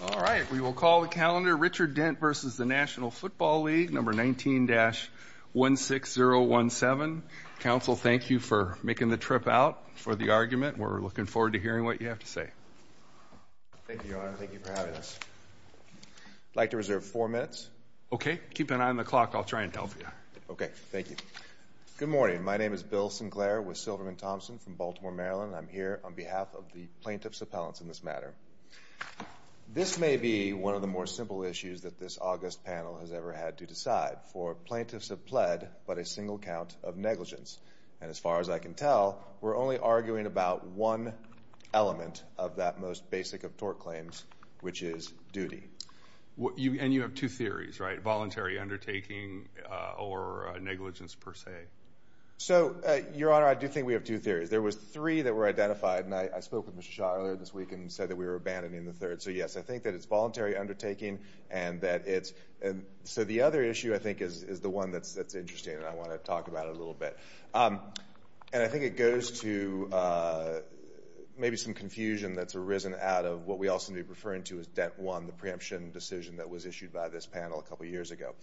All right, we will call the calendar Richard Dent v. National Football League, number 19-16017. Council thank you for making the trip out for the argument, we're looking forward to hearing what you have to say. Thank you, Your Honor, thank you for having us. I'd like to reserve four minutes. Okay, keep an eye on the clock, I'll try and tell for you. Okay, thank you. Good morning, my name is Bill Sinclair with Silverman Thompson from Baltimore, Maryland. I'm here on behalf of the plaintiff's appellants in this matter. This may be one of the more simple issues that this August panel has ever had to decide. For plaintiffs have pled but a single count of negligence, and as far as I can tell, we're only arguing about one element of that most basic of tort claims, which is duty. And you have two theories, right? Voluntary undertaking or negligence per se? So Your Honor, I do think we have two theories. There was three that were identified, and I spoke with Mr. Schott earlier this week and said that we were abandoning the third, so yes, I think that it's voluntary undertaking and that it's, so the other issue I think is the one that's interesting and I want to talk about it a little bit. And I think it goes to maybe some confusion that's arisen out of what we also may be referring to as dent one, the preemption decision that was issued by this panel a couple years ago.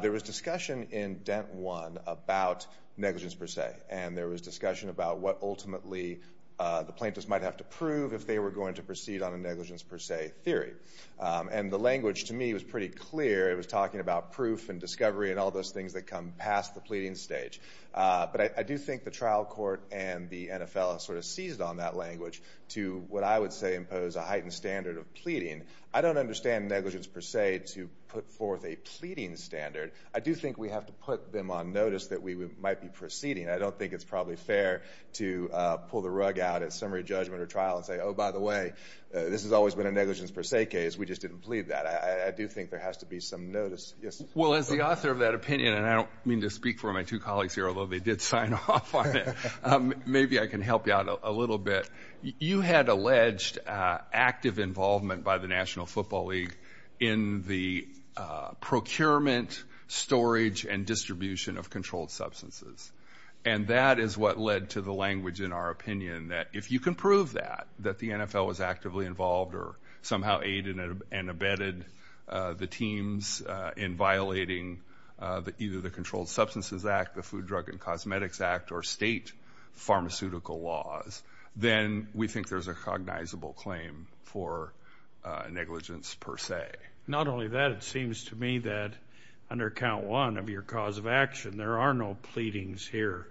There was discussion in dent one about negligence per se, and there was discussion about what ultimately the plaintiffs might have to prove if they were going to proceed on a negligence per se theory. And the language to me was pretty clear. It was talking about proof and discovery and all those things that come past the pleading stage. But I do think the trial court and the NFL sort of seized on that language to what I would say impose a heightened standard of pleading. I don't understand negligence per se to put forth a pleading standard. I do think we have to put them on notice that we might be proceeding. I don't think it's probably fair to pull the rug out at summary judgment or trial and say, oh, by the way, this has always been a negligence per se case. We just didn't plead that. I do think there has to be some notice. Yes? Well, as the author of that opinion, and I don't mean to speak for my two colleagues here, although they did sign off on it, maybe I can help you out a little bit. You had alleged active involvement by the National Football League in the procurement, storage, and distribution of controlled substances. And that is what led to the language in our opinion that if you can prove that, that the NFL was actively involved or somehow aided and abetted the teams in violating either the Controlled Substances Act, the Food, Drug, and Cosmetics Act, or state pharmaceutical laws, then we think there's a cognizable claim for negligence per se. Not only that, it seems to me that under Count 1 of your cause of action, there are no pleadings here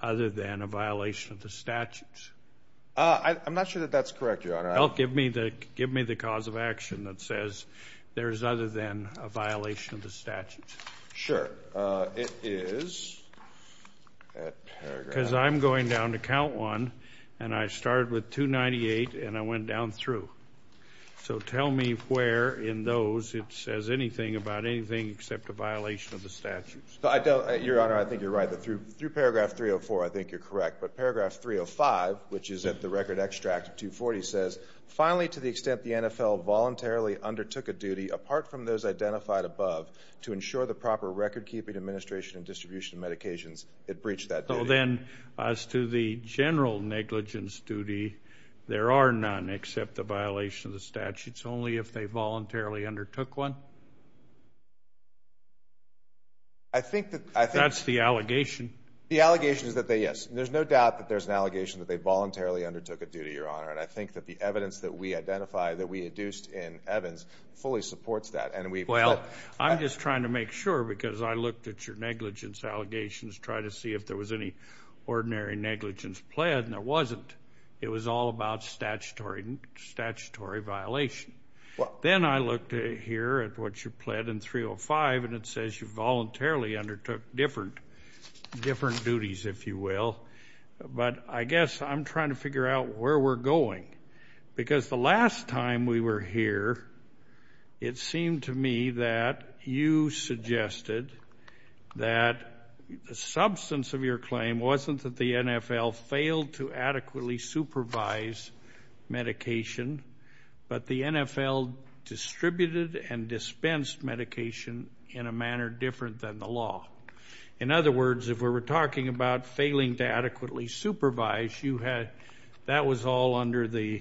other than a violation of the statutes. I'm not sure that that's correct, Your Honor. Well, give me the cause of action that says there is other than a violation of the statutes. Sure. It is at paragraph... Because I'm going down to Count 1, and I started with 298, and I went down through. So tell me where in those it says anything about anything except a violation of the statutes. I don't... Your Honor, I think you're right. Through paragraph 304, I think you're correct. But paragraph 305, which is at the record extract of 240, says, finally, to the extent the NFL voluntarily undertook a duty apart from those identified above to ensure the proper recordkeeping, administration, and distribution of medications, it breached that duty. So then, as to the general negligence duty, there are none except the violation of the statutes, only if they voluntarily undertook one? I think that... That's the allegation. The allegation is that they, yes. There's no doubt that there's an allegation that they voluntarily undertook a duty, Your Honor. And I think that the evidence that we identified, that we induced in Evans, fully supports that. Well, I'm just trying to make sure, because I looked at your negligence allegations, tried to see if there was any ordinary negligence pled, and there wasn't. It was all about statutory violation. Then I looked here at what you pled in 305, and it says you voluntarily undertook different duties, if you will. But I guess I'm trying to figure out where we're going. Because the last time we were here, it seemed to me that you suggested that the substance of your claim wasn't that the NFL failed to adequately supervise medication, but the NFL distributed and dispensed medication in a manner different than the law. In other words, if we were talking about failing to adequately supervise, you had... You had the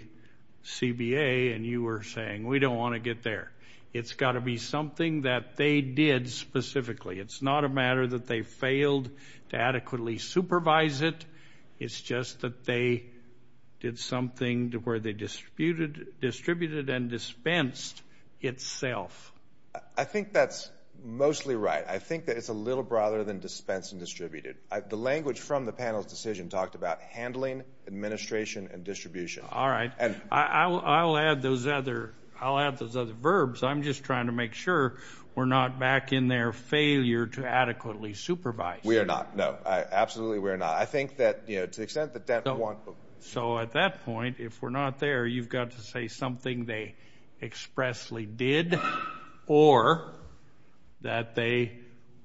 CBA, and you were saying, we don't want to get there. It's got to be something that they did specifically. It's not a matter that they failed to adequately supervise it. It's just that they did something where they distributed and dispensed itself. I think that's mostly right. I think that it's a little broader than dispensed and distributed. The language from the panel's decision talked about handling, administration, and distribution. All right. I'll add those other verbs. I'm just trying to make sure we're not back in there, failure to adequately supervise. We are not. No. Absolutely, we are not. I think that to the extent that Denton 1... So at that point, if we're not there, you've got to say something they expressly did or that they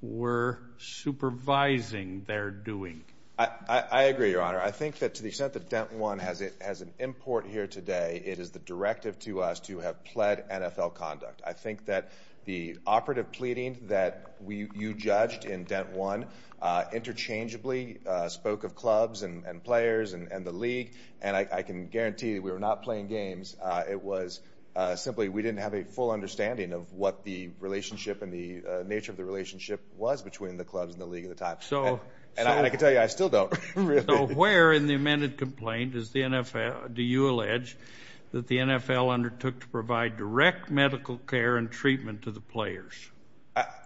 were supervising their doing. I agree, Your Honor. I think that to the extent that Denton 1 has an import here today, it is the directive to us to have pled NFL conduct. I think that the operative pleading that you judged in Denton 1 interchangeably spoke of clubs and players and the league. I can guarantee that we were not playing games. It was simply we didn't have a full understanding of what the relationship and the nature of the relationship was between the clubs and the league at the time. I can tell you, I still don't. Really? So where in the amended complaint is the NFL... Do you allege that the NFL undertook to provide direct medical care and treatment to the players?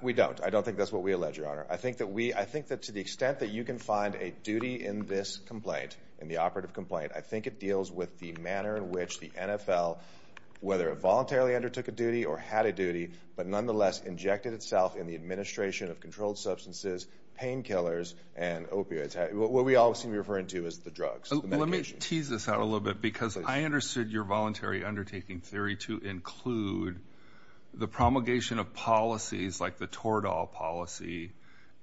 We don't. I don't think that's what we allege, Your Honor. I think that we... I think that to the extent that you can find a duty in this complaint, in the operative complaint, I think it deals with the manner in which the NFL, whether it voluntarily undertook a duty or had a duty, but nonetheless injected itself in the administration of controlled substances, painkillers, and opioids. What we all seem to be referring to is the drugs, the medications. Let me tease this out a little bit because I understood your voluntary undertaking theory to include the promulgation of policies like the Tordahl policy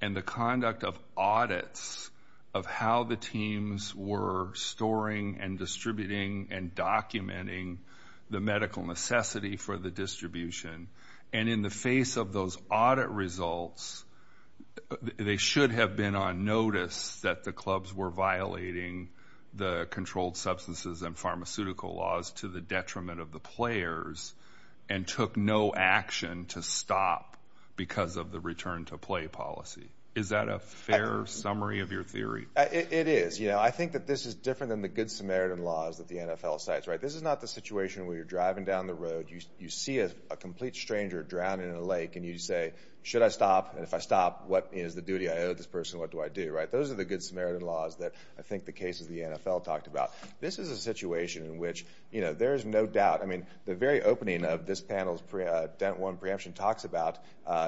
and the conduct of audits of how the teams were storing and distributing and documenting the medical necessity for the distribution. In the face of those audit results, they should have been on notice that the clubs were violating the controlled substances and pharmaceutical laws to the detriment of the players and took no action to stop because of the return to play policy. Is that a fair summary of your theory? It is. I think that this is different than the Good Samaritan laws that the NFL cites. This is not the situation where you're driving down the road. You see a complete stranger drowning in a lake, and you say, should I stop? If I stop, what is the duty I owe this person? What do I do? Those are the Good Samaritan laws that I think the case of the NFL talked about. This is a situation in which there is no doubt. The very opening of this panel's dent one preemption talks about,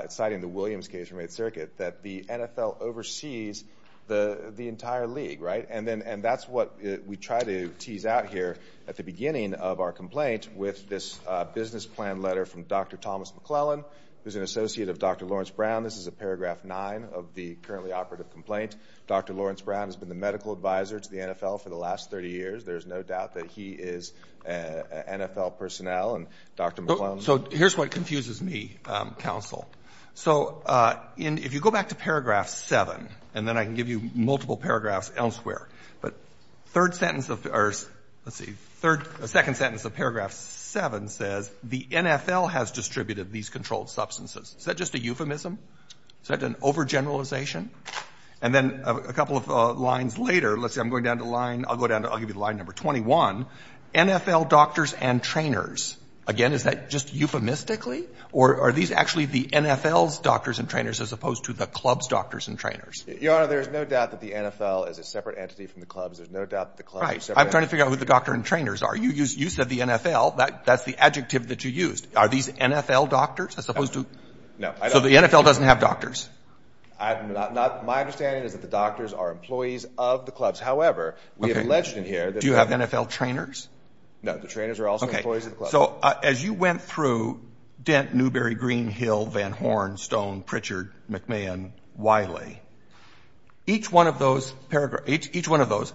citing the Williams case from 8th Circuit, that the NFL oversees the entire league. That's what we try to tease out here at the beginning of our complaint with this business plan letter from Dr. Thomas McClellan, who's an associate of Dr. Lawrence Brown. This is a paragraph nine of the currently operative complaint. Dr. Lawrence Brown has been the medical advisor to the NFL for the last 30 years. There's no doubt that he is NFL personnel. Dr. McClellan— Here's what confuses me, counsel. So if you go back to paragraph seven, and then I can give you multiple paragraphs elsewhere, but third sentence of—or let's see, second sentence of paragraph seven says, the NFL has distributed these controlled substances. Is that just a euphemism? Is that an overgeneralization? And then a couple of lines later, let's see, I'm going down to line—I'll go down to—I'll give you line number 21, NFL doctors and trainers. Again, is that just euphemistically? Or are these actually the NFL's doctors and trainers as opposed to the club's doctors and trainers? Your Honor, there is no doubt that the NFL is a separate entity from the clubs. There's no doubt that the clubs are separate entities. Right. I'm trying to figure out who the doctor and trainers are. You said the NFL. That's the adjective that you used. Are these NFL doctors as opposed to— No. So the NFL doesn't have doctors? My understanding is that the doctors are employees of the clubs. Do you have NFL trainers? No. The trainers are also employees of the clubs. So as you went through Dent, Newberry, Greenhill, Van Horn, Stone, Pritchard, McMahon, Wiley, each one of those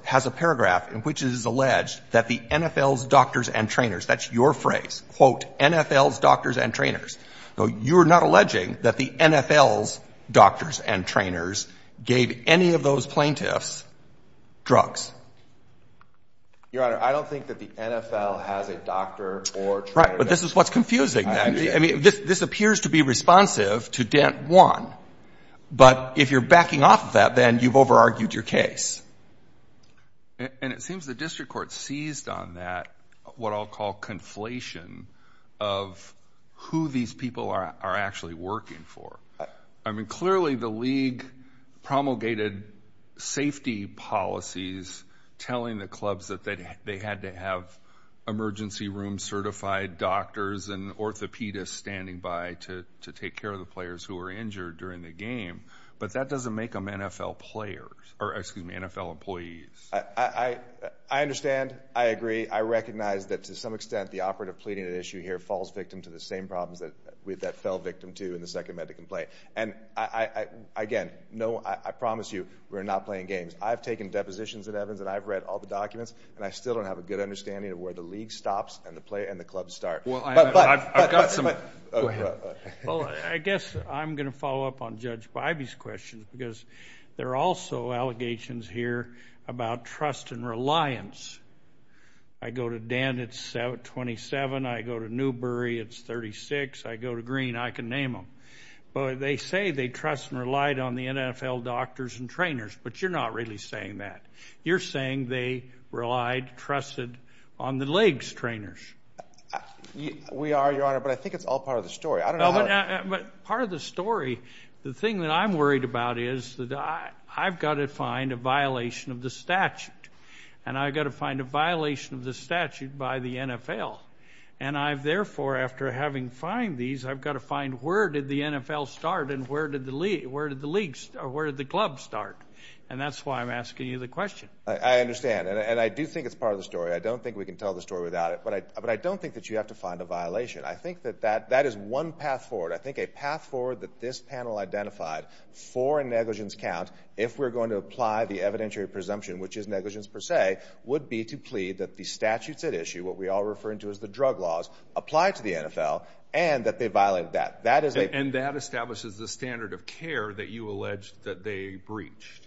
has a paragraph in which it is alleged that the NFL's doctors and trainers—that's your phrase, quote, NFL's doctors and trainers. So you're not alleging that the NFL's doctors and trainers gave any of those plaintiffs drugs? Your Honor, I don't think that the NFL has a doctor or trainer. Right. But this is what's confusing. I mean, this appears to be responsive to Dent 1. But if you're backing off of that, then you've over-argued your case. And it seems the district court seized on that, what I'll call conflation of who these people are actually working for. I mean, clearly the league promulgated safety policies, telling the clubs that they had to have emergency room certified doctors and orthopedists standing by to take care of the players who were injured during the game. But that doesn't make them NFL players, or excuse me, NFL employees. I understand. I agree. I recognize that to some extent the operative pleading at issue here falls victim to the second amendment complaint. And again, I promise you, we're not playing games. I've taken depositions at Evans, and I've read all the documents, and I still don't have a good understanding of where the league stops and the clubs start. Well, I've got some. Go ahead. Well, I guess I'm going to follow up on Judge Bybee's question, because there are also allegations here about trust and reliance. I go to Dent, it's 27. I go to Newbury, it's 36. I go to Green, I can name them. But they say they trust and relied on the NFL doctors and trainers, but you're not really saying that. You're saying they relied, trusted on the leagues trainers. We are, Your Honor, but I think it's all part of the story. But part of the story, the thing that I'm worried about is that I've got to find a violation of the statute, and I've got to find a violation of the statute by the NFL. And I've, therefore, after having fined these, I've got to find where did the NFL start and where did the league, where did the league, or where did the club start? And that's why I'm asking you the question. I understand, and I do think it's part of the story. I don't think we can tell the story without it, but I don't think that you have to find a violation. I think that that is one path forward. I think a path forward that this panel identified for a negligence count, if we're going to apply the evidentiary presumption, which is negligence per se, would be to plead that the statutes at issue, what we all refer to as the drug laws, apply to the NFL, and that they violated that. That is a... And that establishes the standard of care that you allege that they breached.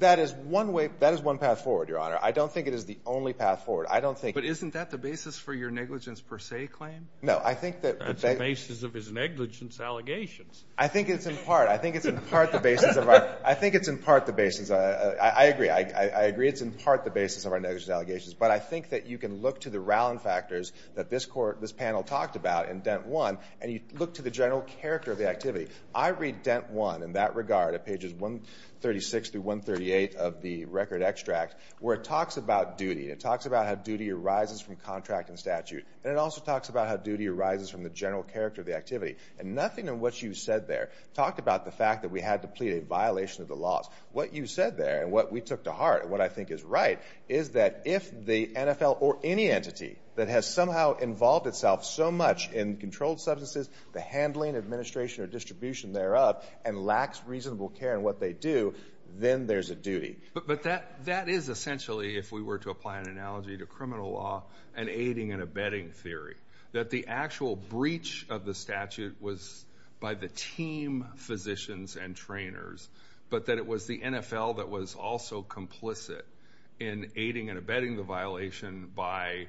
That is one way, that is one path forward, Your Honor. I don't think it is the only path forward. I don't think... But isn't that the basis for your negligence per se claim? No, I think that... That's the basis of his negligence allegations. I think it's in part, I think it's in part the basis of our, I think it's in part the basis of, I agree, I agree it's in part the basis of our negligence allegations. But I think that you can look to the Rowland factors that this court, this panel talked about in dent one, and you look to the general character of the activity. I read dent one in that regard, at pages 136 through 138 of the record extract, where it talks about duty. It talks about how duty arises from contract and statute, and it also talks about how duty arises from the general character of the activity. And nothing in what you said there talked about the fact that we had to plead a violation of the laws. What you said there, and what we took to heart, and what I think is right, is that if the NFL or any entity that has somehow involved itself so much in controlled substances, the handling, administration, or distribution thereof, and lacks reasonable care in what they do, then there's a duty. But that is essentially, if we were to apply an analogy to criminal law, an aiding and abetting theory. That the actual breach of the statute was by the team physicians and trainers, but that it was the NFL that was also complicit in aiding and abetting the violation by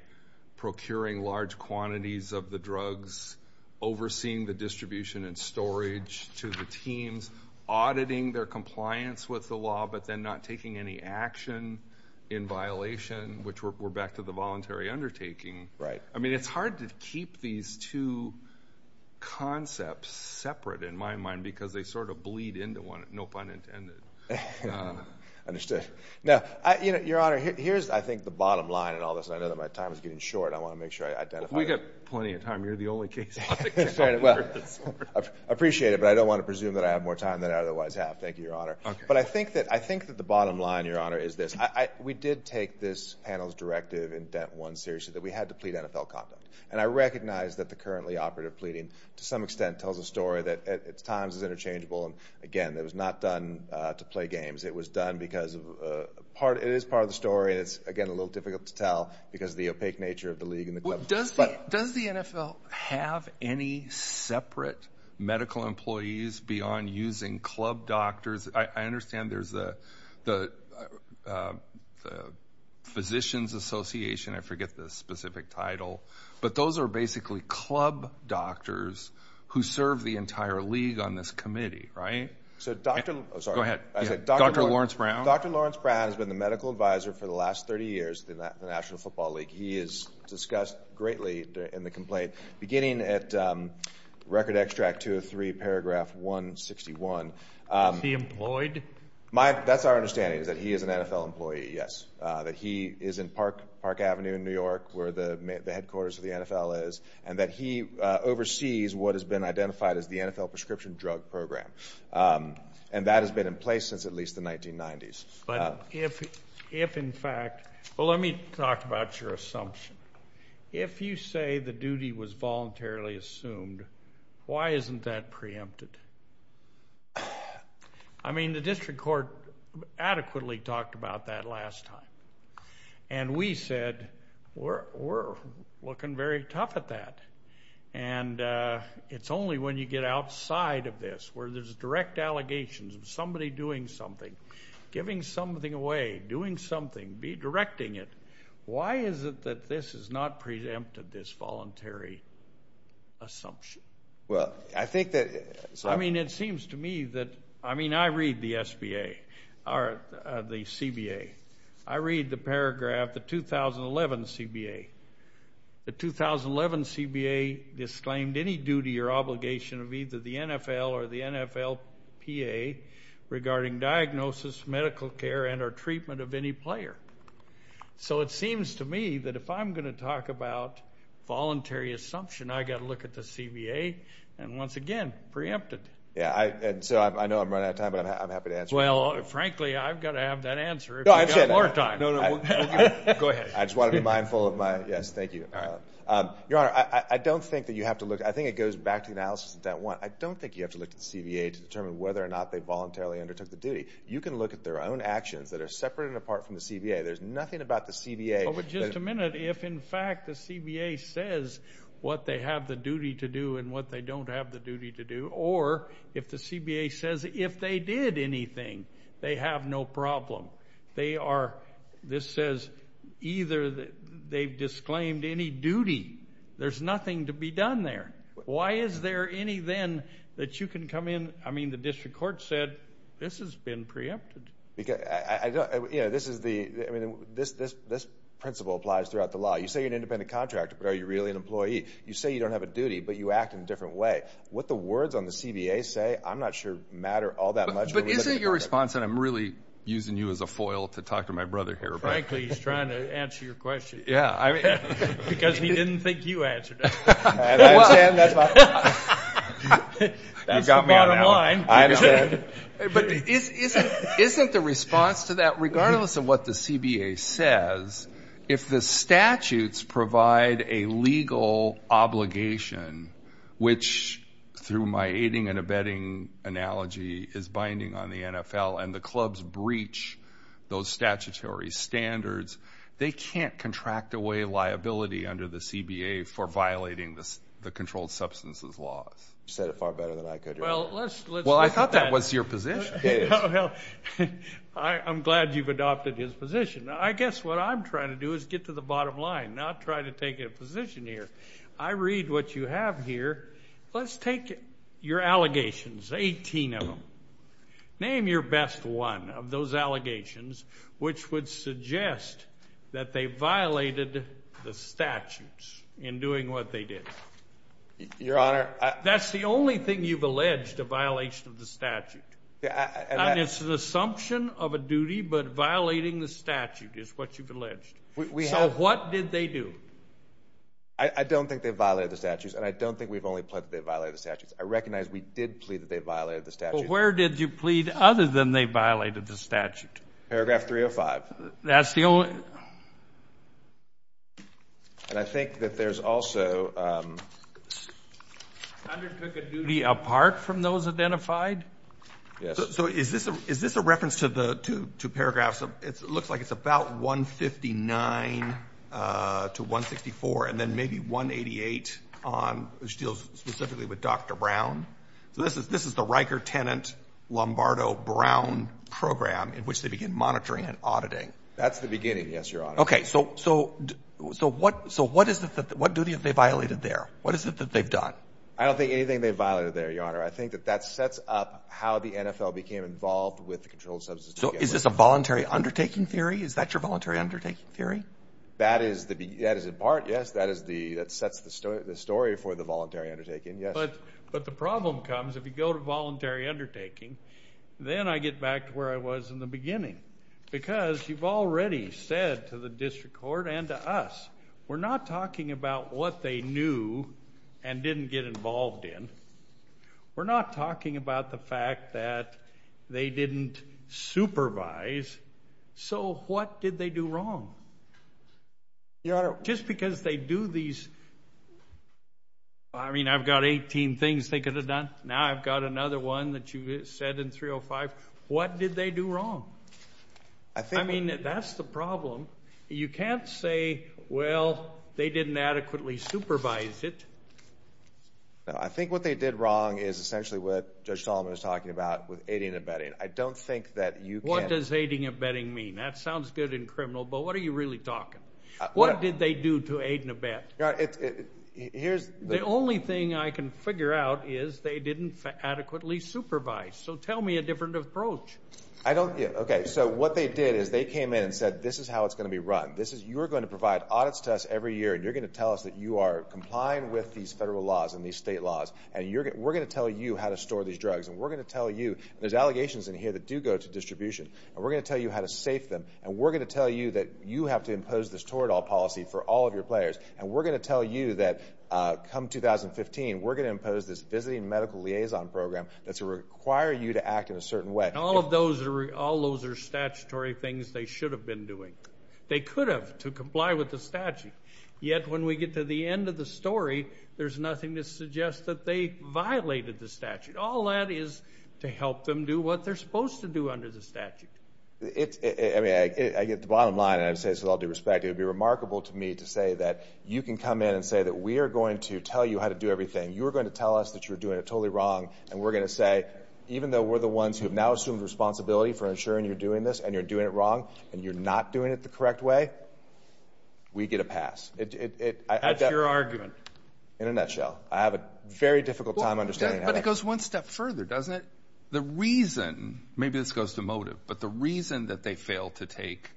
procuring large quantities of the drugs, overseeing the distribution and storage to the teams, auditing their compliance with the law, but then not taking any action in violation, which we're back to the voluntary undertaking. I mean, it's hard to keep these two concepts separate, in my mind, because they sort of seem unintended. Understood. Now, Your Honor, here's, I think, the bottom line in all this, and I know that my time is getting short. I want to make sure I identify it. We've got plenty of time. You're the only case. Well, I appreciate it, but I don't want to presume that I have more time than I otherwise have. Thank you, Your Honor. Okay. But I think that the bottom line, Your Honor, is this. We did take this panel's directive in Dent 1 seriously, that we had to plead NFL conduct. And I recognize that the currently operative pleading, to some extent, tells a story that at times is interchangeable. And again, it was not done to play games. It was done because it is part of the story, and it's, again, a little difficult to tell because of the opaque nature of the league and the club. Does the NFL have any separate medical employees beyond using club doctors? I understand there's the Physicians Association, I forget the specific title, but those are basically club doctors who serve the entire league on this committee, right? Sorry. Go ahead. Dr. Lawrence Brown? Dr. Lawrence Brown has been the medical advisor for the last 30 years in the National Football League. He has discussed greatly in the complaint, beginning at Record Extract 203, paragraph 161. Is he employed? That's our understanding, is that he is an NFL employee, yes. That he is in Park Avenue in New York, where the headquarters of the NFL is. And that he oversees what has been identified as the NFL Prescription Drug Program. And that has been in place since at least the 1990s. But if, in fact, well let me talk about your assumption. If you say the duty was voluntarily assumed, why isn't that preempted? I mean, the district court adequately talked about that last time. And we said, we're looking very tough at that. And it's only when you get outside of this, where there's direct allegations of somebody doing something, giving something away, doing something, redirecting it, why is it that this is not preempted, this voluntary assumption? I mean, it seems to me that, I mean, I read the SBA, or the CBA. I read the paragraph, the 2011 CBA. The 2011 CBA disclaimed any duty or obligation of either the NFL or the NFLPA regarding diagnosis, medical care, and or treatment of any player. So it seems to me that if I'm going to talk about voluntary assumption, I've got to look at the CBA, and once again, preempted. Yeah, and so I know I'm running out of time, but I'm happy to answer. Well, frankly, I've got to have that answer if you've got more time. No, no, go ahead. I just want to be mindful of my, yes, thank you. Your Honor, I don't think that you have to look, I think it goes back to the analysis of that one. I don't think you have to look at the CBA to determine whether or not they voluntarily undertook the duty. You can look at their own actions that are separate and apart from the CBA. There's nothing about the CBA. Well, but just a minute. If, in fact, the CBA says what they have the duty to do and what they don't have the duty to do, or if the CBA says if they did anything, they have no problem. This says either they've disclaimed any duty. There's nothing to be done there. Why is there any then that you can come in, I mean, the district court said, this has been preempted. I don't, you know, this is the, I mean, this principle applies throughout the law. You say you're an independent contractor, but are you really an employee? You say you don't have a duty, but you act in a different way. What the words on the CBA say, I'm not sure matter all that much. But isn't your response, and I'm really using you as a foil to talk to my brother here. Frankly, he's trying to answer your question. Yeah. Because he didn't think you answered it. I understand. That's my point. That's the bottom line. I understand. But isn't the response to that, regardless of what the CBA says, if the statutes provide a legal obligation, which through my aiding and abetting analogy is binding on the NFL and the clubs breach those statutory standards, they can't contract away liability under the CBA for violating the controlled substances laws. You said it far better than I could. Well, I thought that was your position. Well, I'm glad you've adopted his position. I guess what I'm trying to do is get to the bottom line, not try to take a position here. I read what you have here. Let's take your allegations, 18 of them. Name your best one of those allegations which would suggest that they violated the statutes in doing what they did. Your Honor. That's the only thing you've alleged, a violation of the statute. And it's an assumption of a duty, but violating the statute is what you've alleged. So what did they do? I don't think they violated the statutes, and I don't think we've only pledged that they violated the statutes. I recognize we did plead that they violated the statutes. But where did you plead other than they violated the statute? Paragraph 305. That's the only... And I think that there's also... Undertook a duty apart from those identified? Yes. So is this a reference to the two paragraphs? It looks like it's about 159 to 164, and then maybe 188, which deals specifically with Dr. Brown. So this is the Riker-Tennant-Lombardo-Brown program in which they begin monitoring and auditing. That's the beginning, yes, Your Honor. Okay, so what duty have they violated there? What is it that they've done? I don't think anything they violated there, Your Honor. I think that that sets up how the NFL became involved with the controlled substances... So is this a voluntary undertaking theory? Is that your voluntary undertaking theory? That is in part, yes. That sets the story for the voluntary undertaking, yes. But the problem comes, if you go to voluntary undertaking, then I get back to where I was in the beginning. Because you've already said to the district court and to us, we're not talking about what they knew and didn't get involved in. We're not talking about the fact that they didn't supervise. So what did they do wrong? Your Honor... Just because they do these... I mean, I've got 18 things they could have done. Now I've got another one that you said in 305. What did they do wrong? I mean, that's the problem. You can't say, well, they didn't adequately supervise it. No, I think what they did wrong is essentially what Judge Solomon was talking about with aiding and abetting. I don't think that you can... What does aiding and abetting mean? That sounds good in criminal, but what are you really talking? What did they do to aid and abet? The only thing I can figure out is they didn't adequately supervise. So tell me a different approach. Okay, so what they did is they came in and said, this is how it's going to be run. You're going to provide audits to us every year, and you're going to tell us that you are complying with these federal laws and these state laws. And we're going to tell you how to store these drugs. And we're going to tell you... There's allegations in here that do go to distribution. And we're going to tell you how to safe them. And we're going to tell you that you have to impose this toroidal policy for all of your players. And we're going to tell you that come 2015, we're going to impose this visiting medical liaison program that's going to require you to act in a certain way. And all of those are statutory things they should have been doing. They could have to comply with the statute. Yet when we get to the end of the story, there's nothing to suggest that they violated the statute. All that is to help them do what they're supposed to do under the statute. I mean, I get the bottom line, and I say this with all due respect. It would be remarkable to me to say that you can come in and say that we are going to tell you how to do everything. You're going to tell us that you're doing it totally wrong. And we're going to say, even though we're the ones who have now assumed responsibility for ensuring you're doing this and you're doing it wrong, and you're not doing it the correct way, we get a pass. That's your argument. In a nutshell. I have a very difficult time understanding how to... But it goes one step further, doesn't it? The reason... Maybe this goes to motive. But the reason that they failed to take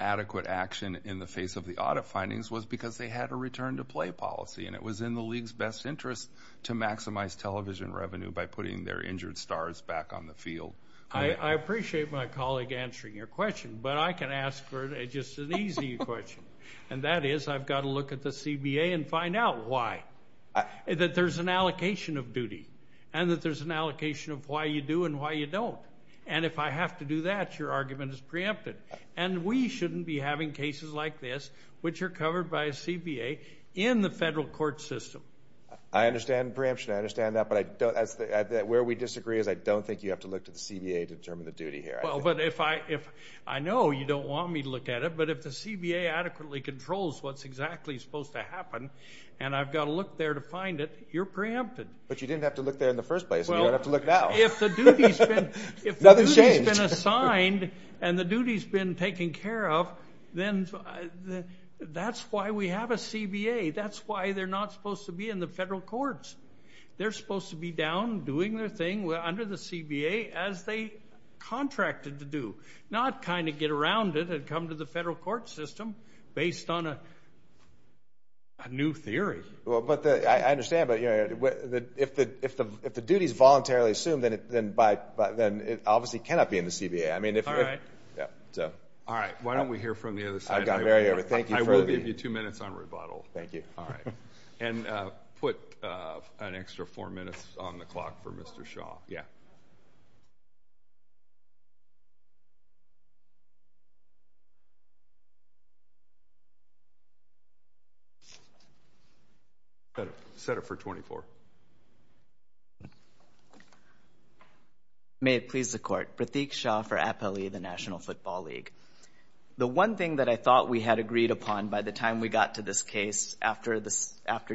adequate action in the face of the audit findings was because they had a return-to-play policy. And it was in the league's best interest to maximize television revenue by putting their injured stars back on the field. I appreciate my colleague answering your question. But I can ask just an easy question. And that is, I've got to look at the CBA and find out why. That there's an allocation of duty. And that there's an allocation of why you do and why you don't. And if I have to do that, your argument is preempted. And we shouldn't be having cases like this, which are covered by a CBA, in the federal court system. I understand preemption. I understand that. But where we disagree is I don't think you have to look to the CBA to determine the duty here. Well, but if I... I know you don't want me to look at it. But if the CBA adequately controls what's exactly supposed to happen, and I've got to look there to find it, you're preempted. But you didn't have to look there in the first place. You don't have to look now. If the duty's been assigned and the duty's been taken care of, then that's why we have a CBA. That's why they're not supposed to be in the federal courts. They're supposed to be down doing their thing under the CBA as they contracted to do. Not kind of get around it and come to the federal court system based on a new theory. Well, but I understand. But if the duty's voluntarily assumed, then it obviously cannot be in the CBA. All right. Why don't we hear from the other side? I will give you two minutes on rebuttal. Thank you. And put an extra four minutes on the clock for Mr. Shaw. Set it for 24. May it please the court. Pratik Shaw for APELI, the National Football League. The one thing that I thought we had agreed upon by the time we got to this case, after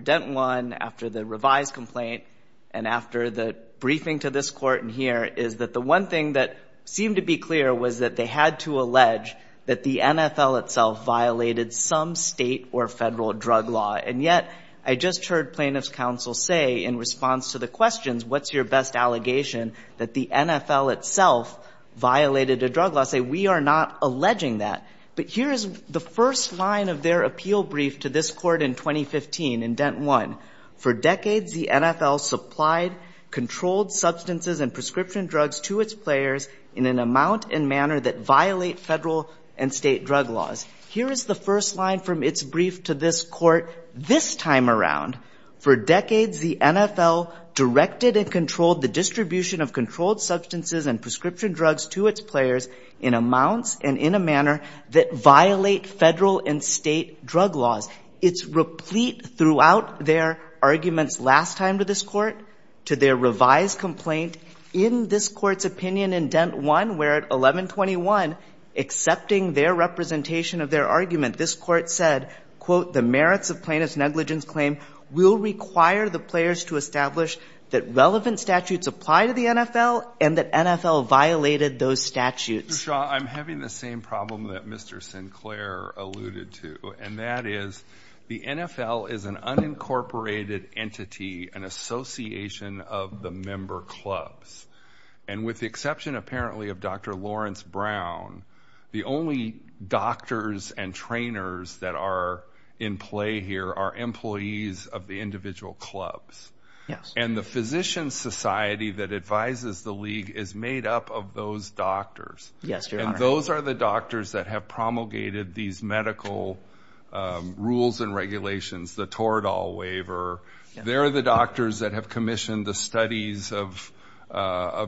Denton won, after the revised complaint, and after the briefing to this court and here, is that the one thing that seemed to be clear was that they had to allege that the NFL itself violated some state or federal drug law. And yet, I just heard plaintiff's counsel say, in response to the questions, what's your best allegation? That the NFL itself violated a drug law. Say, we are not alleging that. But here is the first line of their appeal brief to this court in 2015, in Denton won. For decades, the NFL supplied controlled substances and prescription drugs to its players in an amount and manner that violate federal and state drug laws. Here is the first line from its brief to this court this time around. For decades, the NFL directed and controlled the distribution of controlled substances and prescription drugs to its players in amounts and in a manner that violate federal and state drug laws. It's replete throughout their arguments last time to this court, to their revised complaint, in this court's opinion in Denton won, where at 1121, accepting their representation of their argument, this court said, quote, the merits of plaintiff's negligence claim will require the players to establish that relevant statutes apply to the NFL and that NFL violated those statutes. Mr. Shaw, I'm having the same problem that Mr. Sinclair alluded to. And that is, the NFL is an unincorporated entity, an association of the member clubs. And with the exception, apparently, of Dr. Lawrence Brown, the only doctors and trainers that are in play here are employees of the individual clubs. Yes. And the Physician Society that advises the league is made up of those doctors. Yes, Your Honor. And those are the doctors that have promulgated these medical rules and regulations, the Toradol waiver. They're the doctors that have commissioned the studies of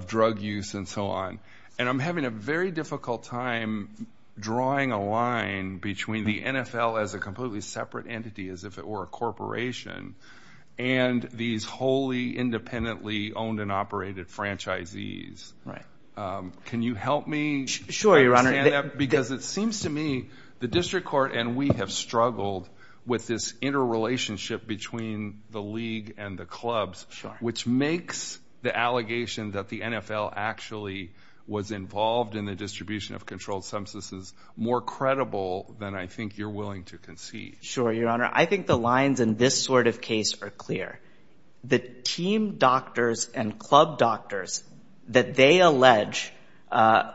drug use and so on. And I'm having a very difficult time drawing a line between the NFL as a completely separate entity, as if it were a corporation, and these wholly independently owned and operated franchisees. Can you help me understand that? Sure, Your Honor. Because it seems to me the district court and we have struggled with this interrelationship between the league and the clubs, which makes the allegation that the NFL actually was involved in the distribution of controlled substances more credible than I think you're willing to concede. Sure, Your Honor. I think the lines in this sort of case are clear. The team doctors and club doctors that they allege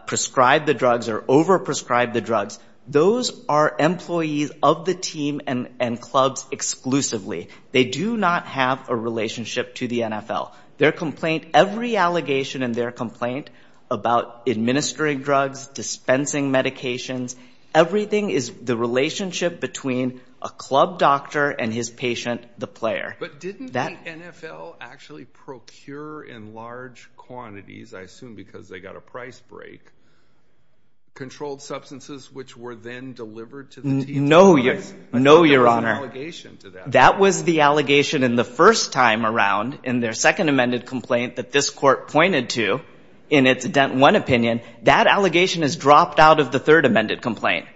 prescribe the drugs or over-prescribe the drugs, those are employees of the team and clubs exclusively. They do not have a relationship to the NFL. Their complaint, every allegation in their complaint about administering drugs, dispensing medications, everything is the relationship between a club doctor and his patient, the player. But didn't the NFL actually procure in large quantities, I assume because they got a price break, controlled substances which were then delivered to the team? No, Your Honor. I thought there was an allegation to that. That was the allegation in the first time around in their second amended complaint that this court pointed to in its one opinion. That allegation is dropped out of the third amended complaint.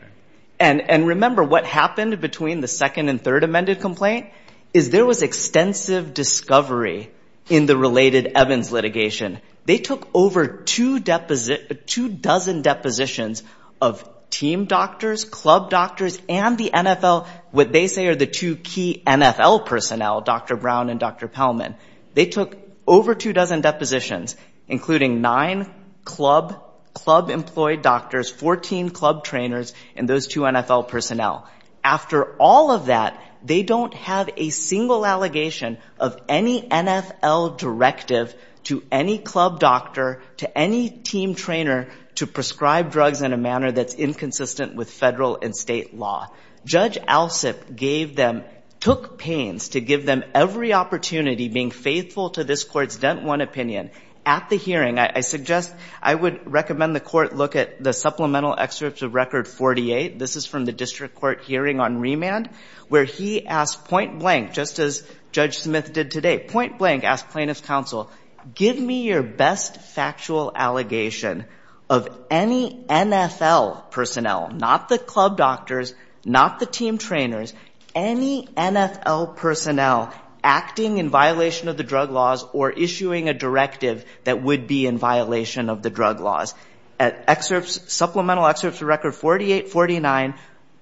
And remember what happened between the second and third amended complaint is there was extensive discovery in the related Evans litigation. They took over two dozen depositions of team doctors, club doctors, and the NFL, what they say are the two key NFL personnel, Dr. Brown and Dr. Pellman. They took over two dozen depositions, including nine club-employed doctors, 14 club trainers, and those two NFL personnel. After all of that, they don't have a single allegation of any NFL directive to any club doctor, to any team trainer to prescribe drugs in a manner that's inconsistent with federal and state law. Judge Alsip gave them, took pains to give them every opportunity being faithful to this court's dent one opinion. At the hearing, I suggest, I would recommend the court look at the supplemental excerpt of record 48. This is from the district court hearing on remand, where he asked point blank, just as Judge Smith did today, point blank asked plaintiff's counsel, give me your best factual allegation of any NFL personnel, not the club doctors, not the team trainers, any NFL personnel acting in violation of the drug laws or issuing a directive that would be in violation of the drug laws. At supplemental excerpts of record 48, 49,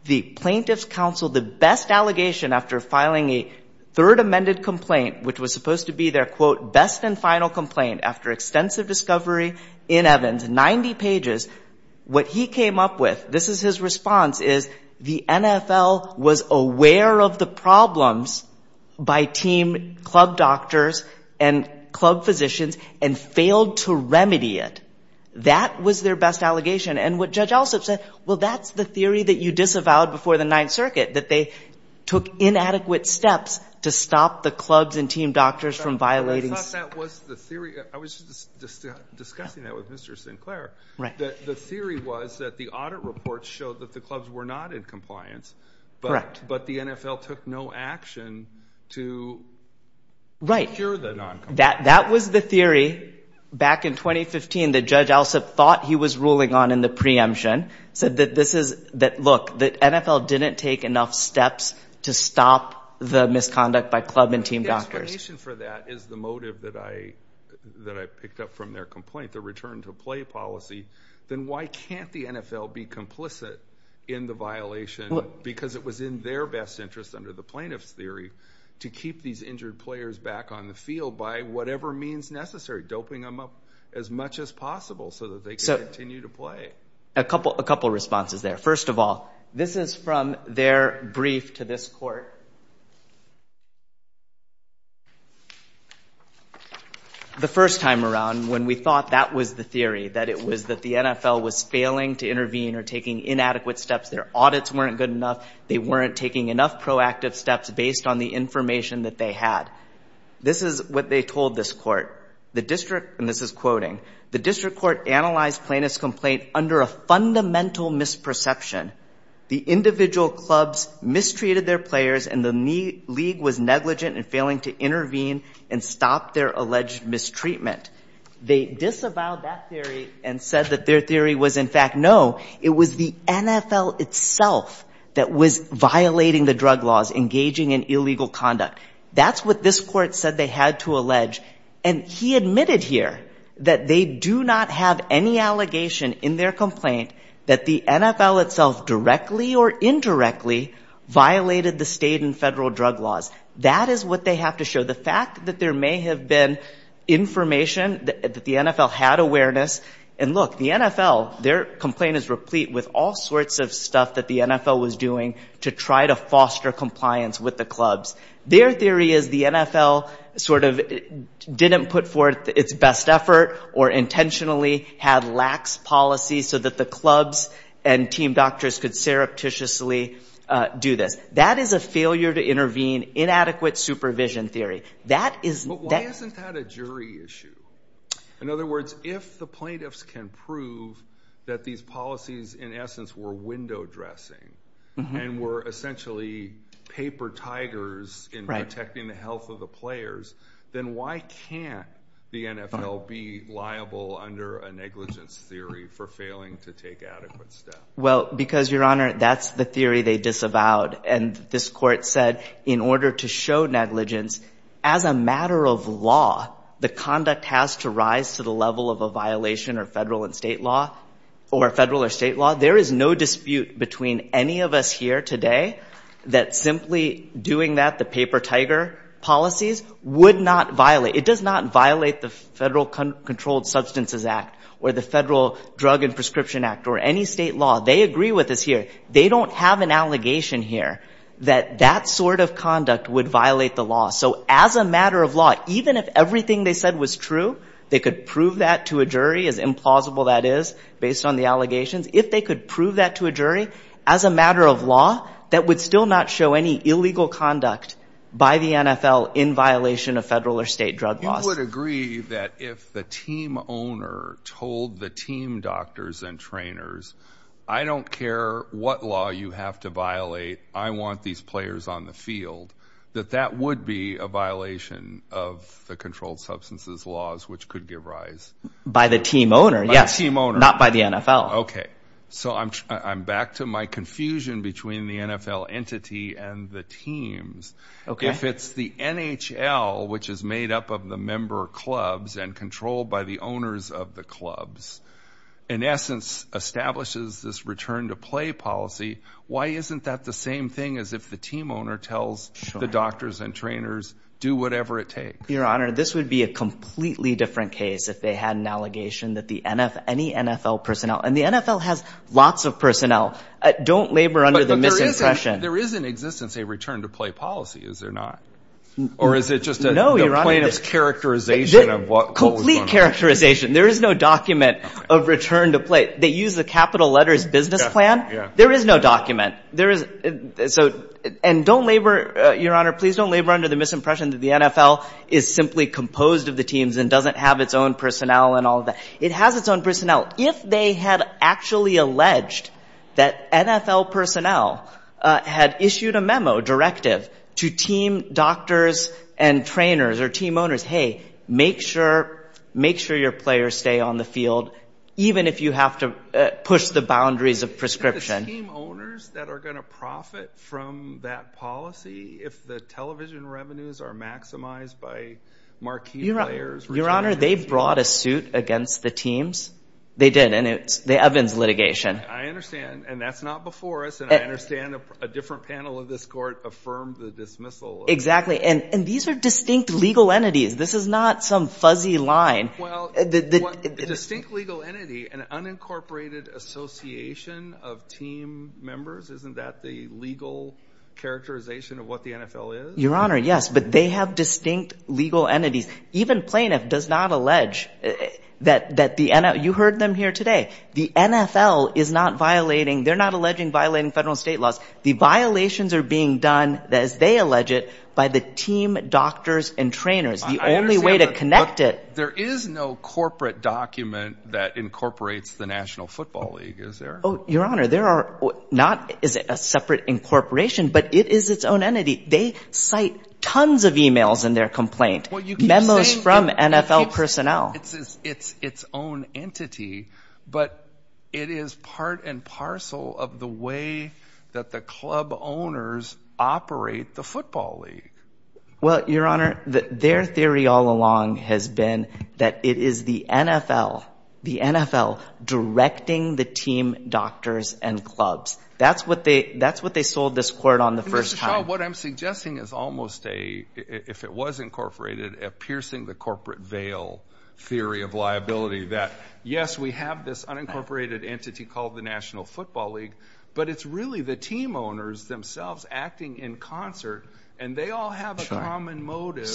the plaintiff's counsel, the best allegation after filing a third amended complaint, which was supposed to be their, quote, best and final complaint after extensive discovery in Evans, 90 pages, what he came up with, this is his response, is the NFL was aware of the problems by team club doctors and club physicians and failed to remedy it. That was their best allegation. And what Judge Alsup said, well, that's the theory that you disavowed before the Ninth Circuit, that they took inadequate steps to stop the clubs and team doctors from violating. I was just discussing that with Mr. Sinclair. The theory was that the audit reports showed that the clubs were not in compliance, but the NFL took no action to cure the noncompliance. That was the theory back in 2015 that Judge Alsup thought he was ruling on in the preemption said that this is, that look, the NFL didn't take enough steps to stop the misconduct by club and team doctors. If the explanation for that is the motive that I picked up from their complaint, the return to play policy, then why can't the NFL be complicit in the violation because it was in their best interest under the plaintiff's theory to keep these injured players back on the field by whatever means necessary, doping them up as much as possible so that they can continue to play. A couple of responses there. First of all, this is from their brief to this court. The first time around, when we thought that was the theory, that it was that the NFL was failing to intervene or taking inadequate steps, their audits weren't good enough, they weren't taking enough proactive steps based on the information that they had. This is what they told this court. The district court analyzed plaintiff's complaint under a fundamental misperception. The individual clubs mistreated their players and the league was negligent in failing to intervene and stop their alleged mistreatment. They disavowed that theory and said that their theory was in fact no, it was the NFL itself that was violating the drug laws, engaging in illegal conduct. That's what this court said they had to allege and he admitted here that they do not have any allegation in their complaint that the NFL itself, directly or indirectly, violated the state and federal drug laws. That is what they have to show. The fact that there may have been information that the NFL had awareness, and look, the NFL, their complaint is replete with all sorts of stuff that the NFL was doing to try to foster compliance with the clubs. Their theory is the NFL sort of didn't put forth its best effort or intentionally had lax policies so that the clubs and team doctors could surreptitiously do this. That is a failure to intervene, inadequate supervision theory. But why isn't that a jury issue? In other words, if the plaintiffs can prove that these policies in essence were window dressing and were essentially paper tigers in protecting the health of the players, then why can't the NFL be liable under a negligence theory for failing to take adequate steps? Well, because, Your Honor, that's the theory they disavowed. And this court said in order to show negligence, as a matter of law, the conduct has to rise to the level of a violation or federal or state law. There is no dispute between any of us here today that simply doing that, the paper tiger policies, would not violate, the Federal Controlled Substances Act or the Federal Drug and Prescription Act or any state law. They agree with us here. They don't have an allegation here that that sort of conduct would violate the law. So as a matter of law, they could prove that to a jury, as implausible that is based on the allegations, if they could prove that to a jury, as a matter of law, that would still not show any illegal conduct by the NFL in violation of federal or state drug laws. You would agree that if the team owner told the team doctors and trainers, I don't care what law you have to violate, I want these players on the field, that that would be a violation of the controlled substances laws, which could give rise. By the team owner, not by the NFL. So I'm back to my confusion between the NFL entity and the teams. If it's the NHL, which is made up of the member clubs and controlled by the owners of the clubs, in essence establishes this return to play policy, why isn't that the same thing as if the team owner tells the doctors and trainers, do whatever it takes? Your Honor, this would be a completely different case if they had an allegation that any NFL personnel, and the NFL has lots of personnel, don't labor under the misimpression. But there is in existence a return to play policy, is there not? Or is it just the plaintiff's characterization of what was going on? Complete characterization. There is no document of return to play. They use the capital letters business plan? There is no document. And don't labor, Your Honor, please don't labor under the misimpression that the NFL is simply composed of the teams and doesn't have its own personnel and all that. It has its own personnel. If they had actually alleged that NFL personnel had issued a memo, directive, to team doctors and trainers or team owners, hey, make sure your players stay on the field even if you have to push the boundaries of prescription. Are the team owners that are going to profit from that policy if the television revenues are maximized by marquee players? Your Honor, they brought a suit against the teams. They did, and it's the Evans litigation. I understand, and that's not before us, and I understand a different panel of this court affirmed the dismissal. Exactly, and these are distinct legal entities. This is not some fuzzy line. A distinct legal entity, an unincorporated association of team members, isn't that the legal characterization of what the NFL is? Your Honor, yes, but they have distinct legal entities. Even plaintiff does not allege that the NFL You heard them here today. They're not alleging violating federal state laws. The violations are being done, as they allege it, by the team doctors and trainers, the only way to connect it. There is no corporate document that incorporates the National Football League, is there? Your Honor, there is not a separate incorporation, but it is its own entity. They cite tons of emails in their complaint, memos from NFL personnel. It's its own entity, but it is part and parcel of the way that the club owners operate the football league. Well, Your Honor, their theory all along has been that it is the NFL directing the team doctors and clubs. That's what they sold this court on the first time. Well, what I'm suggesting is almost a, if it was incorporated, a piercing the corporate veil theory of liability that, yes, we have this unincorporated entity called the National Football League, but it's really the team owners themselves acting in concert and they all have a common motive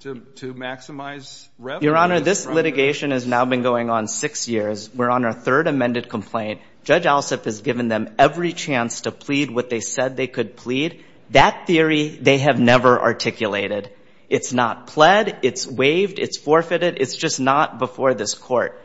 to maximize revenue. Your Honor, this litigation has now been going on six years. We're on our third amended complaint. Judge Alsup has given them every chance to plead what they said they could plead. That theory they have never articulated. It's not pled, it's waived, it's forfeited, it's just not before this court.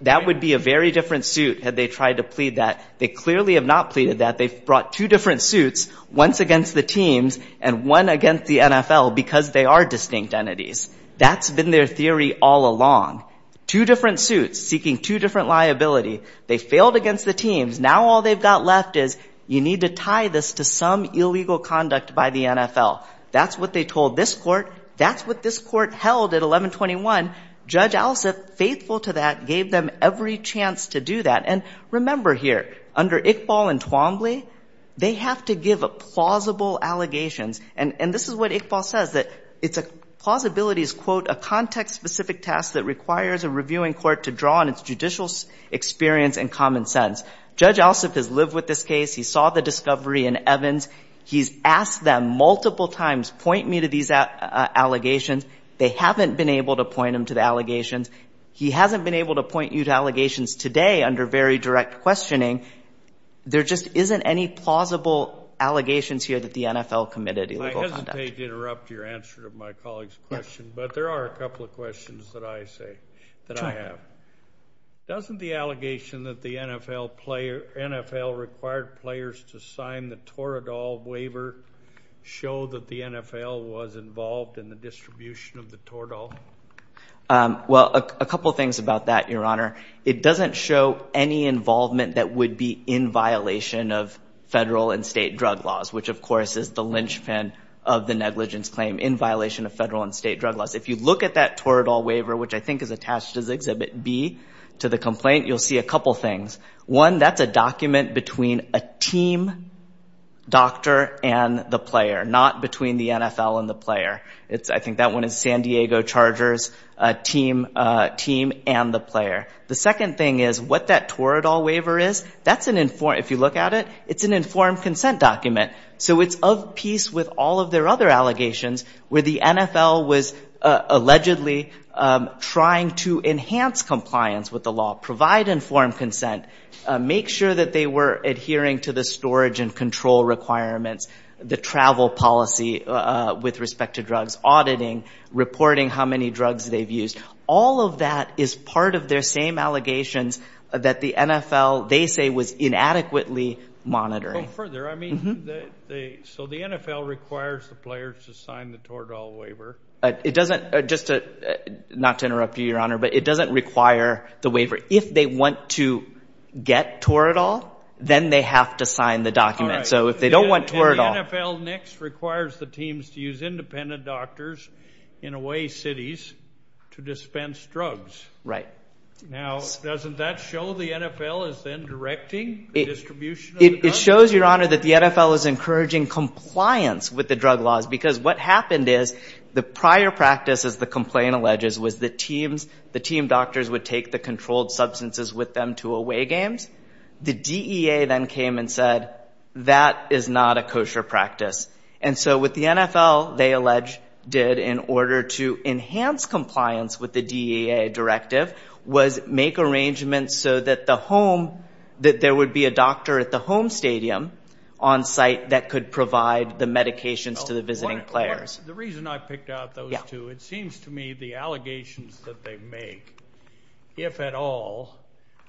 That would be a very different suit had they tried to plead that. They clearly have not pleaded that. They've brought two different suits, once against the teams and one against the NFL because they are distinct entities. That's been their theory all along. Two different suits seeking two different liability. They failed against the teams. Now all they've got left is you need to tie this to some illegal conduct by the NFL. That's what they told this court. That's what this court held at 1121. Judge Alsup, faithful to that, gave them every chance to do that. Remember here, under Iqbal and Twombly, they have to give plausible allegations. This is what Iqbal says. Plausibility is a context-specific task that requires a reviewing court to draw on its judicial experience and common sense. Judge Alsup has lived with this case. He saw the discovery in Evans. He's asked them multiple times, point me to these allegations. They haven't been able to point him to the allegations. He hasn't been able to point you to allegations today under very direct questioning. There just isn't any plausible allegations here that the NFL committed illegal conduct. I hesitate to interrupt your answer to my colleague's question, but there are a couple of questions that I have. Doesn't the allegation that the NFL required players to sign the Toradol waiver show that the NFL was involved in the distribution of the Toradol? Well, a couple things about that, Your Honor. It doesn't show any involvement that would be in violation of federal and state drug laws, which of course is the linchpin of the negligence claim in violation of federal and state drug laws. If you look at that Toradol waiver, which I think is attached as Exhibit B to the complaint, you'll see a couple things. One, that's a document between a team doctor and the player, not between the NFL and the player. I think that one is San Diego Chargers team and the player. The second thing is what that Toradol waiver is, if you look at it, it's an informed consent document. So it's of piece with all of their other allegations where the NFL was allegedly trying to enhance compliance with the law, provide informed consent, make sure that they were adhering to the policy with respect to drugs, auditing, reporting how many drugs they've used. All of that is part of their same allegations that the NFL, they say, was inadequately monitoring. Go further. So the NFL requires the player to sign the Toradol waiver? Not to interrupt you, Your Honor, but it doesn't require the waiver. If they want to get Toradol, then they have to sign the document. And the NFL next requires the teams to use independent doctors in away cities to dispense drugs. Now, doesn't that show the NFL is then directing the distribution of the drugs? It shows, Your Honor, that the NFL is encouraging compliance with the drug laws because what happened is, the prior practice, as the complaint alleges, was the team doctors would take the controlled substances with them to away games. The DEA then came and said, that is not a kosher practice. And so what the NFL, they allege, did in order to enhance compliance with the DEA directive was make arrangements so that there would be a doctor at the home stadium on site that could provide the medications to the visiting players. The reason I picked out those two, it seems to me the allegations that they make, if at all,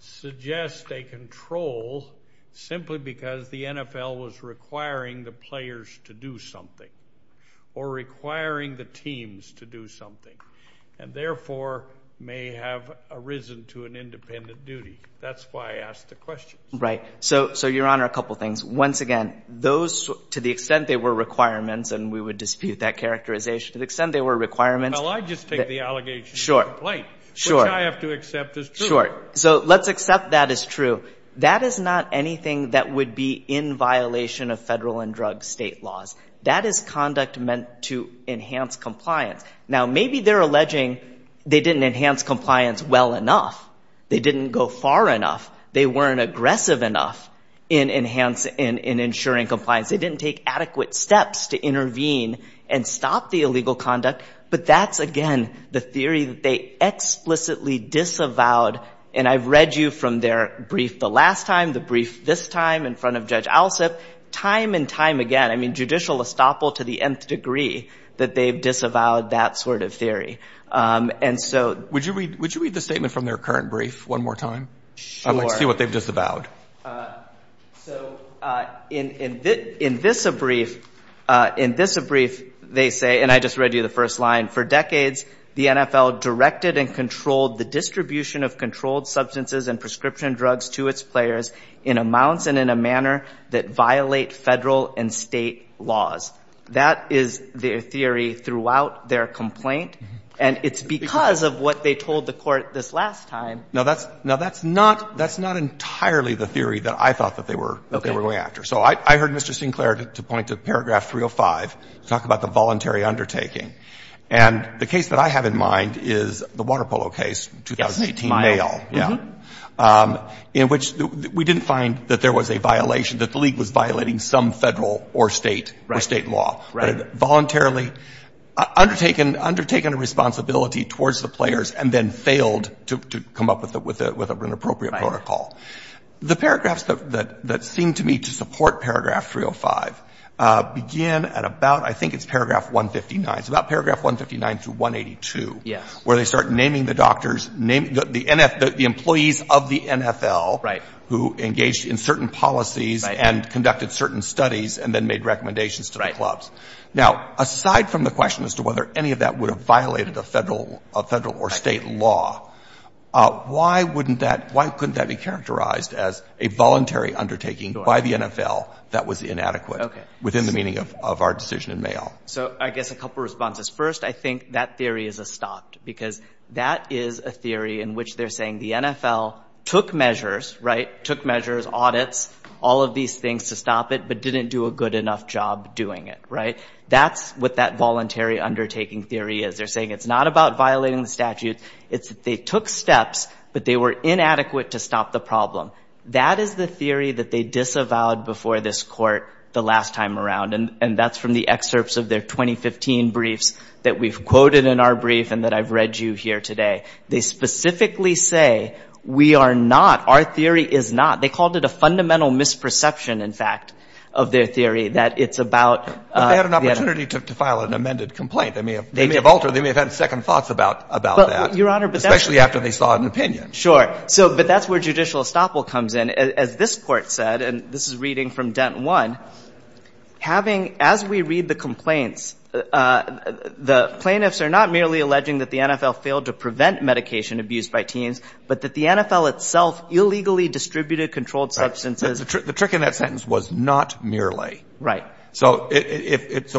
suggest a control simply because the NFL was requiring the players to do something or requiring the teams to do something and therefore may have arisen to an independent duty. That's why I asked the question. Right. So, Your Honor, a couple things. Once again, those, to the extent they were requirements, and we would dispute that characterization, to the extent they were requirements, which I have to accept as true. So let's accept that as true. That is not anything that would be in violation of federal and drug state laws. That is conduct meant to enhance compliance. Now, maybe they're alleging they didn't enhance compliance well enough, they didn't go far enough, they weren't aggressive enough in ensuring compliance. They didn't take adequate steps to intervene and stop the illegal conduct. But that's, again, the theory that they explicitly disavowed. And I've read you from their brief the last time, the brief this time in front of Judge Alsip, time and time again, judicial estoppel to the nth degree, that they've disavowed that sort of theory. And so... Would you read the statement from their current brief one more time? Sure. So, in this brief, they say, and I just read you the first line, for decades, the NFL directed and controlled the distribution of controlled substances and prescription drugs to its players in amounts and in a manner that violate federal and state laws. That is their theory throughout their complaint. And it's because of what they told the court this last time. Now, that's not entirely the theory that I thought that they were going after. So I heard Mr. Sinclair point to paragraph 305 to talk about the voluntary undertaking. And the case that I have in mind is the Water Polo case, 2018, Mayo, in which we didn't find that there was a violation, that the league was violating some federal or state law. But it voluntarily undertaken a responsibility towards the players and then failed to come up with an appropriate protocol. The paragraphs that seem to me to support paragraph 305 begin at about, I think it's paragraph 159, it's about paragraph 159 through 182, where they start naming the doctors, the employees of the NFL, who engaged in certain policies and conducted certain studies and then made recommendations to the clubs. Now, aside from the question as to whether any of that would have violated a federal or state law, why couldn't that be characterized as a voluntary undertaking by the NFL that was inadequate within the meaning of our decision in Mayo? So I guess a couple of responses. First, I think that theory is a stop because that is a theory in which they're saying the NFL took measures, audits, all of these things to stop it, but didn't do a good enough job doing it. That's what that voluntary undertaking theory is. They're saying it's not about violating the statute, it's that they took steps, but they were inadequate to stop the problem. That is the theory that they disavowed before this court the last time around, and that's from the excerpts of their 2015 briefs that we've quoted in our brief and that I've read you here today. They specifically say we are not, our theory is not, they called it a fundamental misperception, in fact, of their theory, that it's about... But they had an opportunity to file an amended complaint. They may have altered, they may have had second thoughts about that, especially after they saw an opinion. Sure, but that's where judicial estoppel comes in. As this court said, and this is reading from dent one, as we read the complaints, the plaintiffs are not merely alleging that the NFL failed to prevent medication abuse by teens, but that the NFL itself illegally distributed controlled substances... The trick in that sentence was not merely. So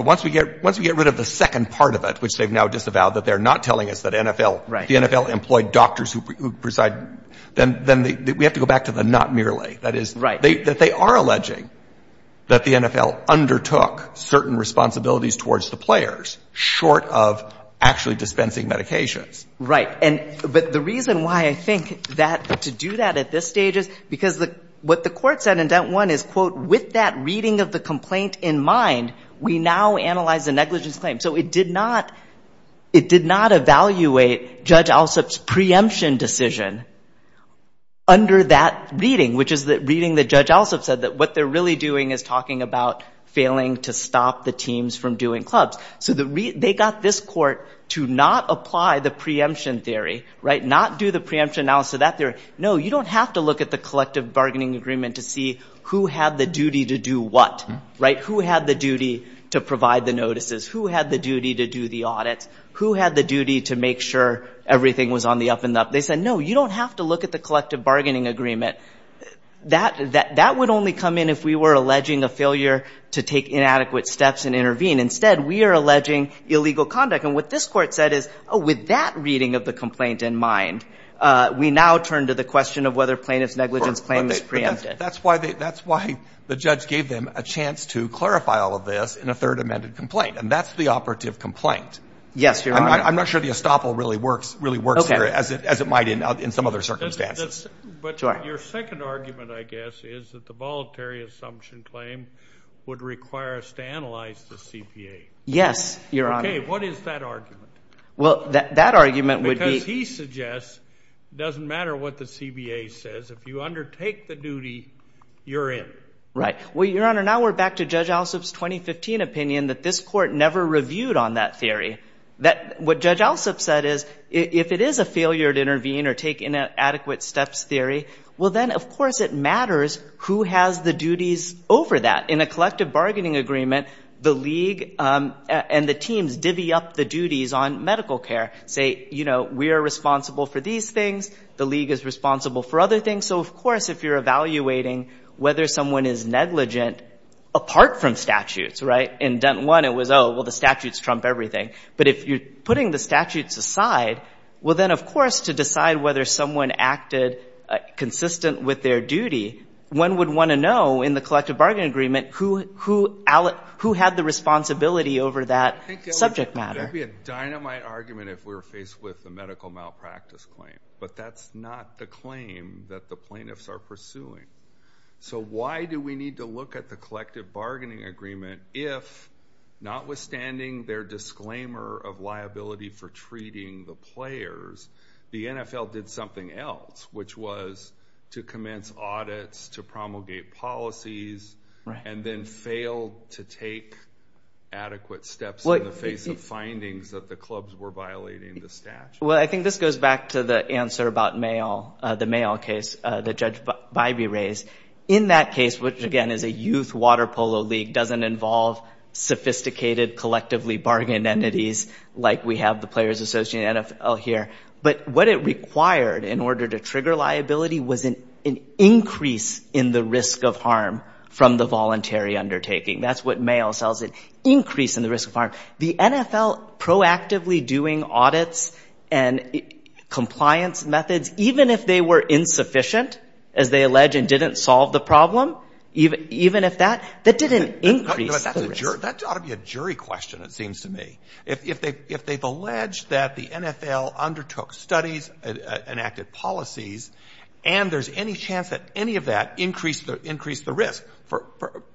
once we get rid of the second part of it, which they've now disavowed, that they're not telling us that the NFL employed doctors who preside, then we have to go back to the not merely. That they are alleging that the NFL undertook certain responsibilities towards the players short of actually dispensing medications. Right, but the reason why I think to do that at this stage is because what the court said in dent one is, quote, with that reading of the complaint in mind, we now analyze the negligence claim. So it did not evaluate Judge Alsup's preemption decision under that reading, which is the reading that Judge Alsup said that what they're really doing is talking about failing to stop the teams from doing clubs. So they got this court to not apply the preemption theory, not do the preemption analysis of that theory. No, you don't have to look at the collective bargaining agreement to see who had the duty to do what. Who had the duty to provide the notices? Who had the duty to do the audits? Who had the duty to make sure everything was on the up and up? They said, no, you don't have to look at the collective That would only come in if we were alleging a failure to take inadequate steps and intervene. Instead, we are alleging illegal conduct. And what this court said is, with that reading of the complaint in mind, we now turn to the question of whether plaintiff's negligence claim is preempted. That's why the judge gave them a chance to clarify all of this in a third amended complaint, and that's the operative complaint. I'm not sure the estoppel really works here as it might in some other circumstances. But your second argument, I guess, is that the voluntary assumption claim would require us to analyze the CBA. What is that argument? Because he suggests, it doesn't matter what the CBA says, if you undertake the duty, you're in. Right. Well, Your Honor, now we're back to Judge Allsup's 2015 opinion that this court never reviewed on that theory. What Judge Allsup said is, if it is a failure to intervene or take inadequate steps theory, well then, of course, it matters who has the duties over that. In a collective bargaining agreement, the league and the teams divvy up the duties on medical care. Say, you know, we are responsible for these things, the league is responsible for other things. So, of course, if you're evaluating whether someone is negligent apart from statutes, right? In dent one, it was, oh, well, the statutes trump everything. But if you're putting the statutes aside, well then, of course, to decide whether someone acted consistent with their duty, one would want to know in the collective bargaining agreement who had the responsibility over that subject matter. There would be a dynamite argument if we were faced with the medical malpractice claim. But that's not the claim that the plaintiffs are pursuing. So why do we need to look at the collective bargaining agreement if, notwithstanding their disclaimer of liability for treating the players, the NFL did something else, which was to commence audits, to promulgate policies, and then failed to take adequate steps in the face of findings that the clubs were violating the statute? Well, I think this goes back to the answer about the Mayo case that Judge Bybee raised. In that case, which, again, is a youth water polo league, doesn't involve sophisticated, collectively bargained entities like we have the players associated in the NFL here. But what it required in order to trigger liability was an increase in the risk of harm from the voluntary undertaking. That's what Mayo sells, an increase in the risk of harm. The NFL proactively doing audits and compliance methods, even if they were insufficient, as they allege and didn't solve the problem, that didn't increase the risk. That ought to be a jury question, it seems to me. If they've alleged that the NFL undertook studies and enacted policies, and there's any chance that any of that increased the risk,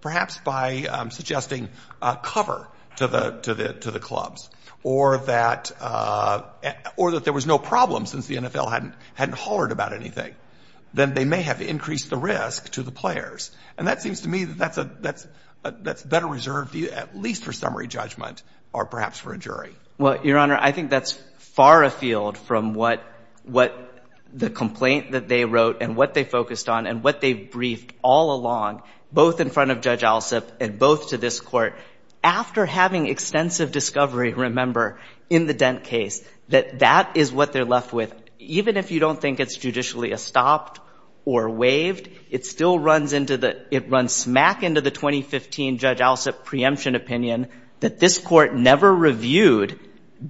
perhaps by suggesting cover to the clubs, or that there was no problem since the NFL hadn't hollered about anything, then they may have increased the risk to the players. And that seems to me that that's better reserved at least for summary judgment or perhaps for a jury. Well, Your Honor, I think that's far afield from what the complaint that they wrote and what they focused on and what they've briefed all along, both in front of Judge Alsup and both to this Court. After having extensive discovery, remember, in the Dent case, that that is what they're left with. Even if you don't think it's judicially estopped or waived, it still runs into the... It runs smack into the 2015 Judge Alsup preemption opinion that this Court never reviewed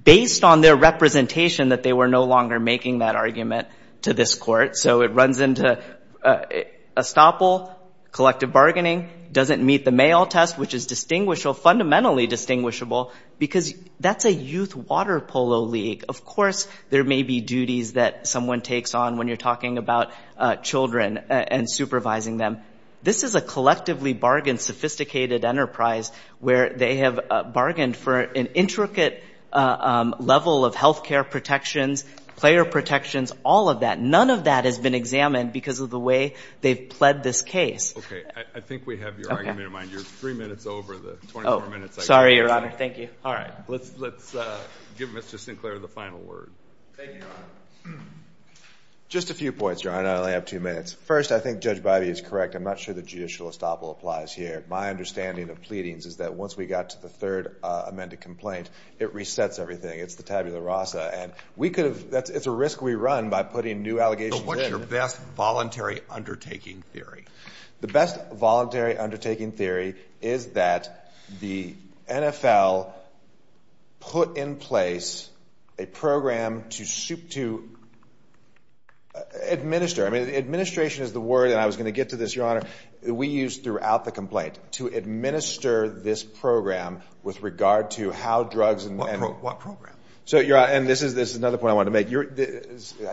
based on their representation that they were no longer making that argument to this Court. So it runs into estoppel, collective bargaining, doesn't meet the Mayo test, which is fundamentally distinguishable because that's a youth water polo league. Of course there may be duties that someone takes on when you're talking about children and supervising them. This is a collectively bargained, sophisticated enterprise where they have bargained for an intricate level of health care protections, player protections, all of that. None of that has been examined because of the way they've pled this case. Okay. I think we have your argument in mind. You're 3 minutes over the 24 minutes I gave you. Sorry, Your Honor. Thank you. Let's give Mr. Sinclair the final word. Thank you, Your Honor. Just a few points, Your Honor. I only have 2 minutes. First, I think Judge Bidey is correct. I'm not sure that judicial estoppel applies here. My understanding of pleadings is that once we got to the 3rd amended complaint, it resets everything. It's the tabula rasa. It's a risk we run by putting new allegations in. What's your best voluntary undertaking theory? The best voluntary undertaking theory is that the NFL put in place a program to administer. Administration is the word, and I was going to get to this, Your Honor, that we use throughout the complaint to administer this program with regard to how drugs... What program? I can't remember if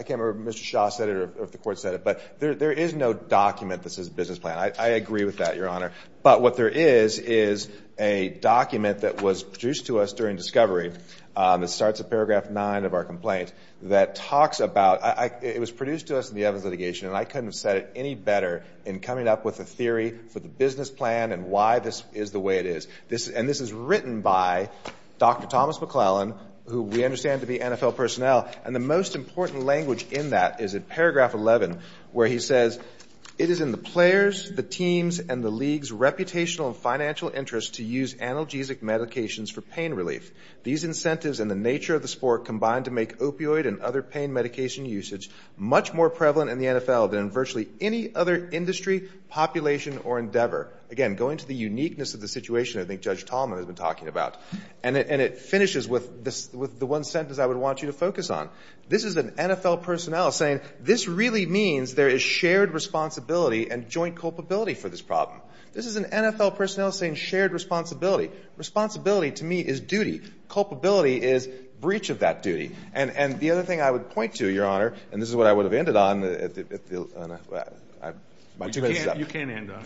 Mr. Shaw said it or if the Court said it, but there is no document that says business plan. I agree with that, Your Honor. But what there is is a document that was produced to us during discovery that starts at paragraph 9 of our complaint that talks about... It was produced to us in the Evans litigation, and I couldn't have said it any better in coming up with a theory for the business plan and why this is the way it is. And this is written by Dr. Thomas McClellan, who we understand to be NFL personnel, and the most important language in that is in paragraph 11 where he says, It is in the players, the teams, and the league's reputational and financial interest to use analgesic medications for pain relief. These incentives and the nature of the sport combine to make opioid and other pain medication usage much more prevalent in the NFL than in virtually any other industry, population, or endeavor. Again, going to the uniqueness of the situation I think Judge Tallman has been talking about. And it finishes with the one sentence I would want you to focus on. This is an NFL personnel saying this really means there is shared responsibility and joint culpability for this problem. This is an NFL personnel saying shared responsibility. Responsibility to me is duty. Culpability is breach of that duty. And the other thing I would point to, Your Honor, and this is what I would have ended on... You can end on.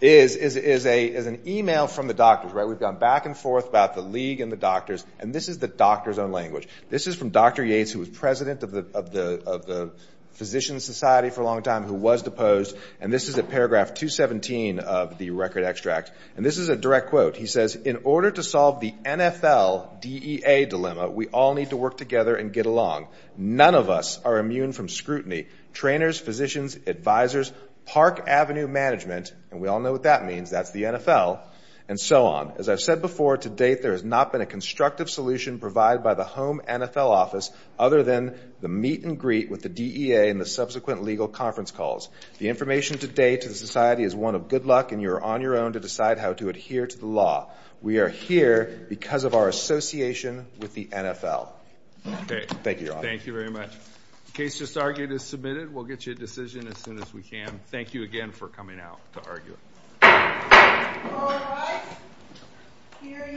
...is an email from the doctors. We've gone back and forth about the league and the doctors and this is the doctor's own language. This is from Dr. Yates who was president of the physician society for a long time who was deposed and this is at paragraph 217 of the record extract. And this is a direct quote. He says, In order to solve the NFL DEA dilemma, we all need to work together and get along. None of us are immune from scrutiny. Trainers, physicians, advisors, Park Avenue management, and we all know what that means, that's the NFL, and so on. As I've said before, to date there has not been a constructive solution provided by the home NFL office other than the meet and greet with the DEA and the subsequent legal conference calls. The information to date to the society is one of good luck and you are on your own to decide how to adhere to the law. We are here because of our association with the NFL. Thank you, Your Honor. The case just argued is submitted. We'll get you a decision as soon as we can. Thank you again for coming out to argue.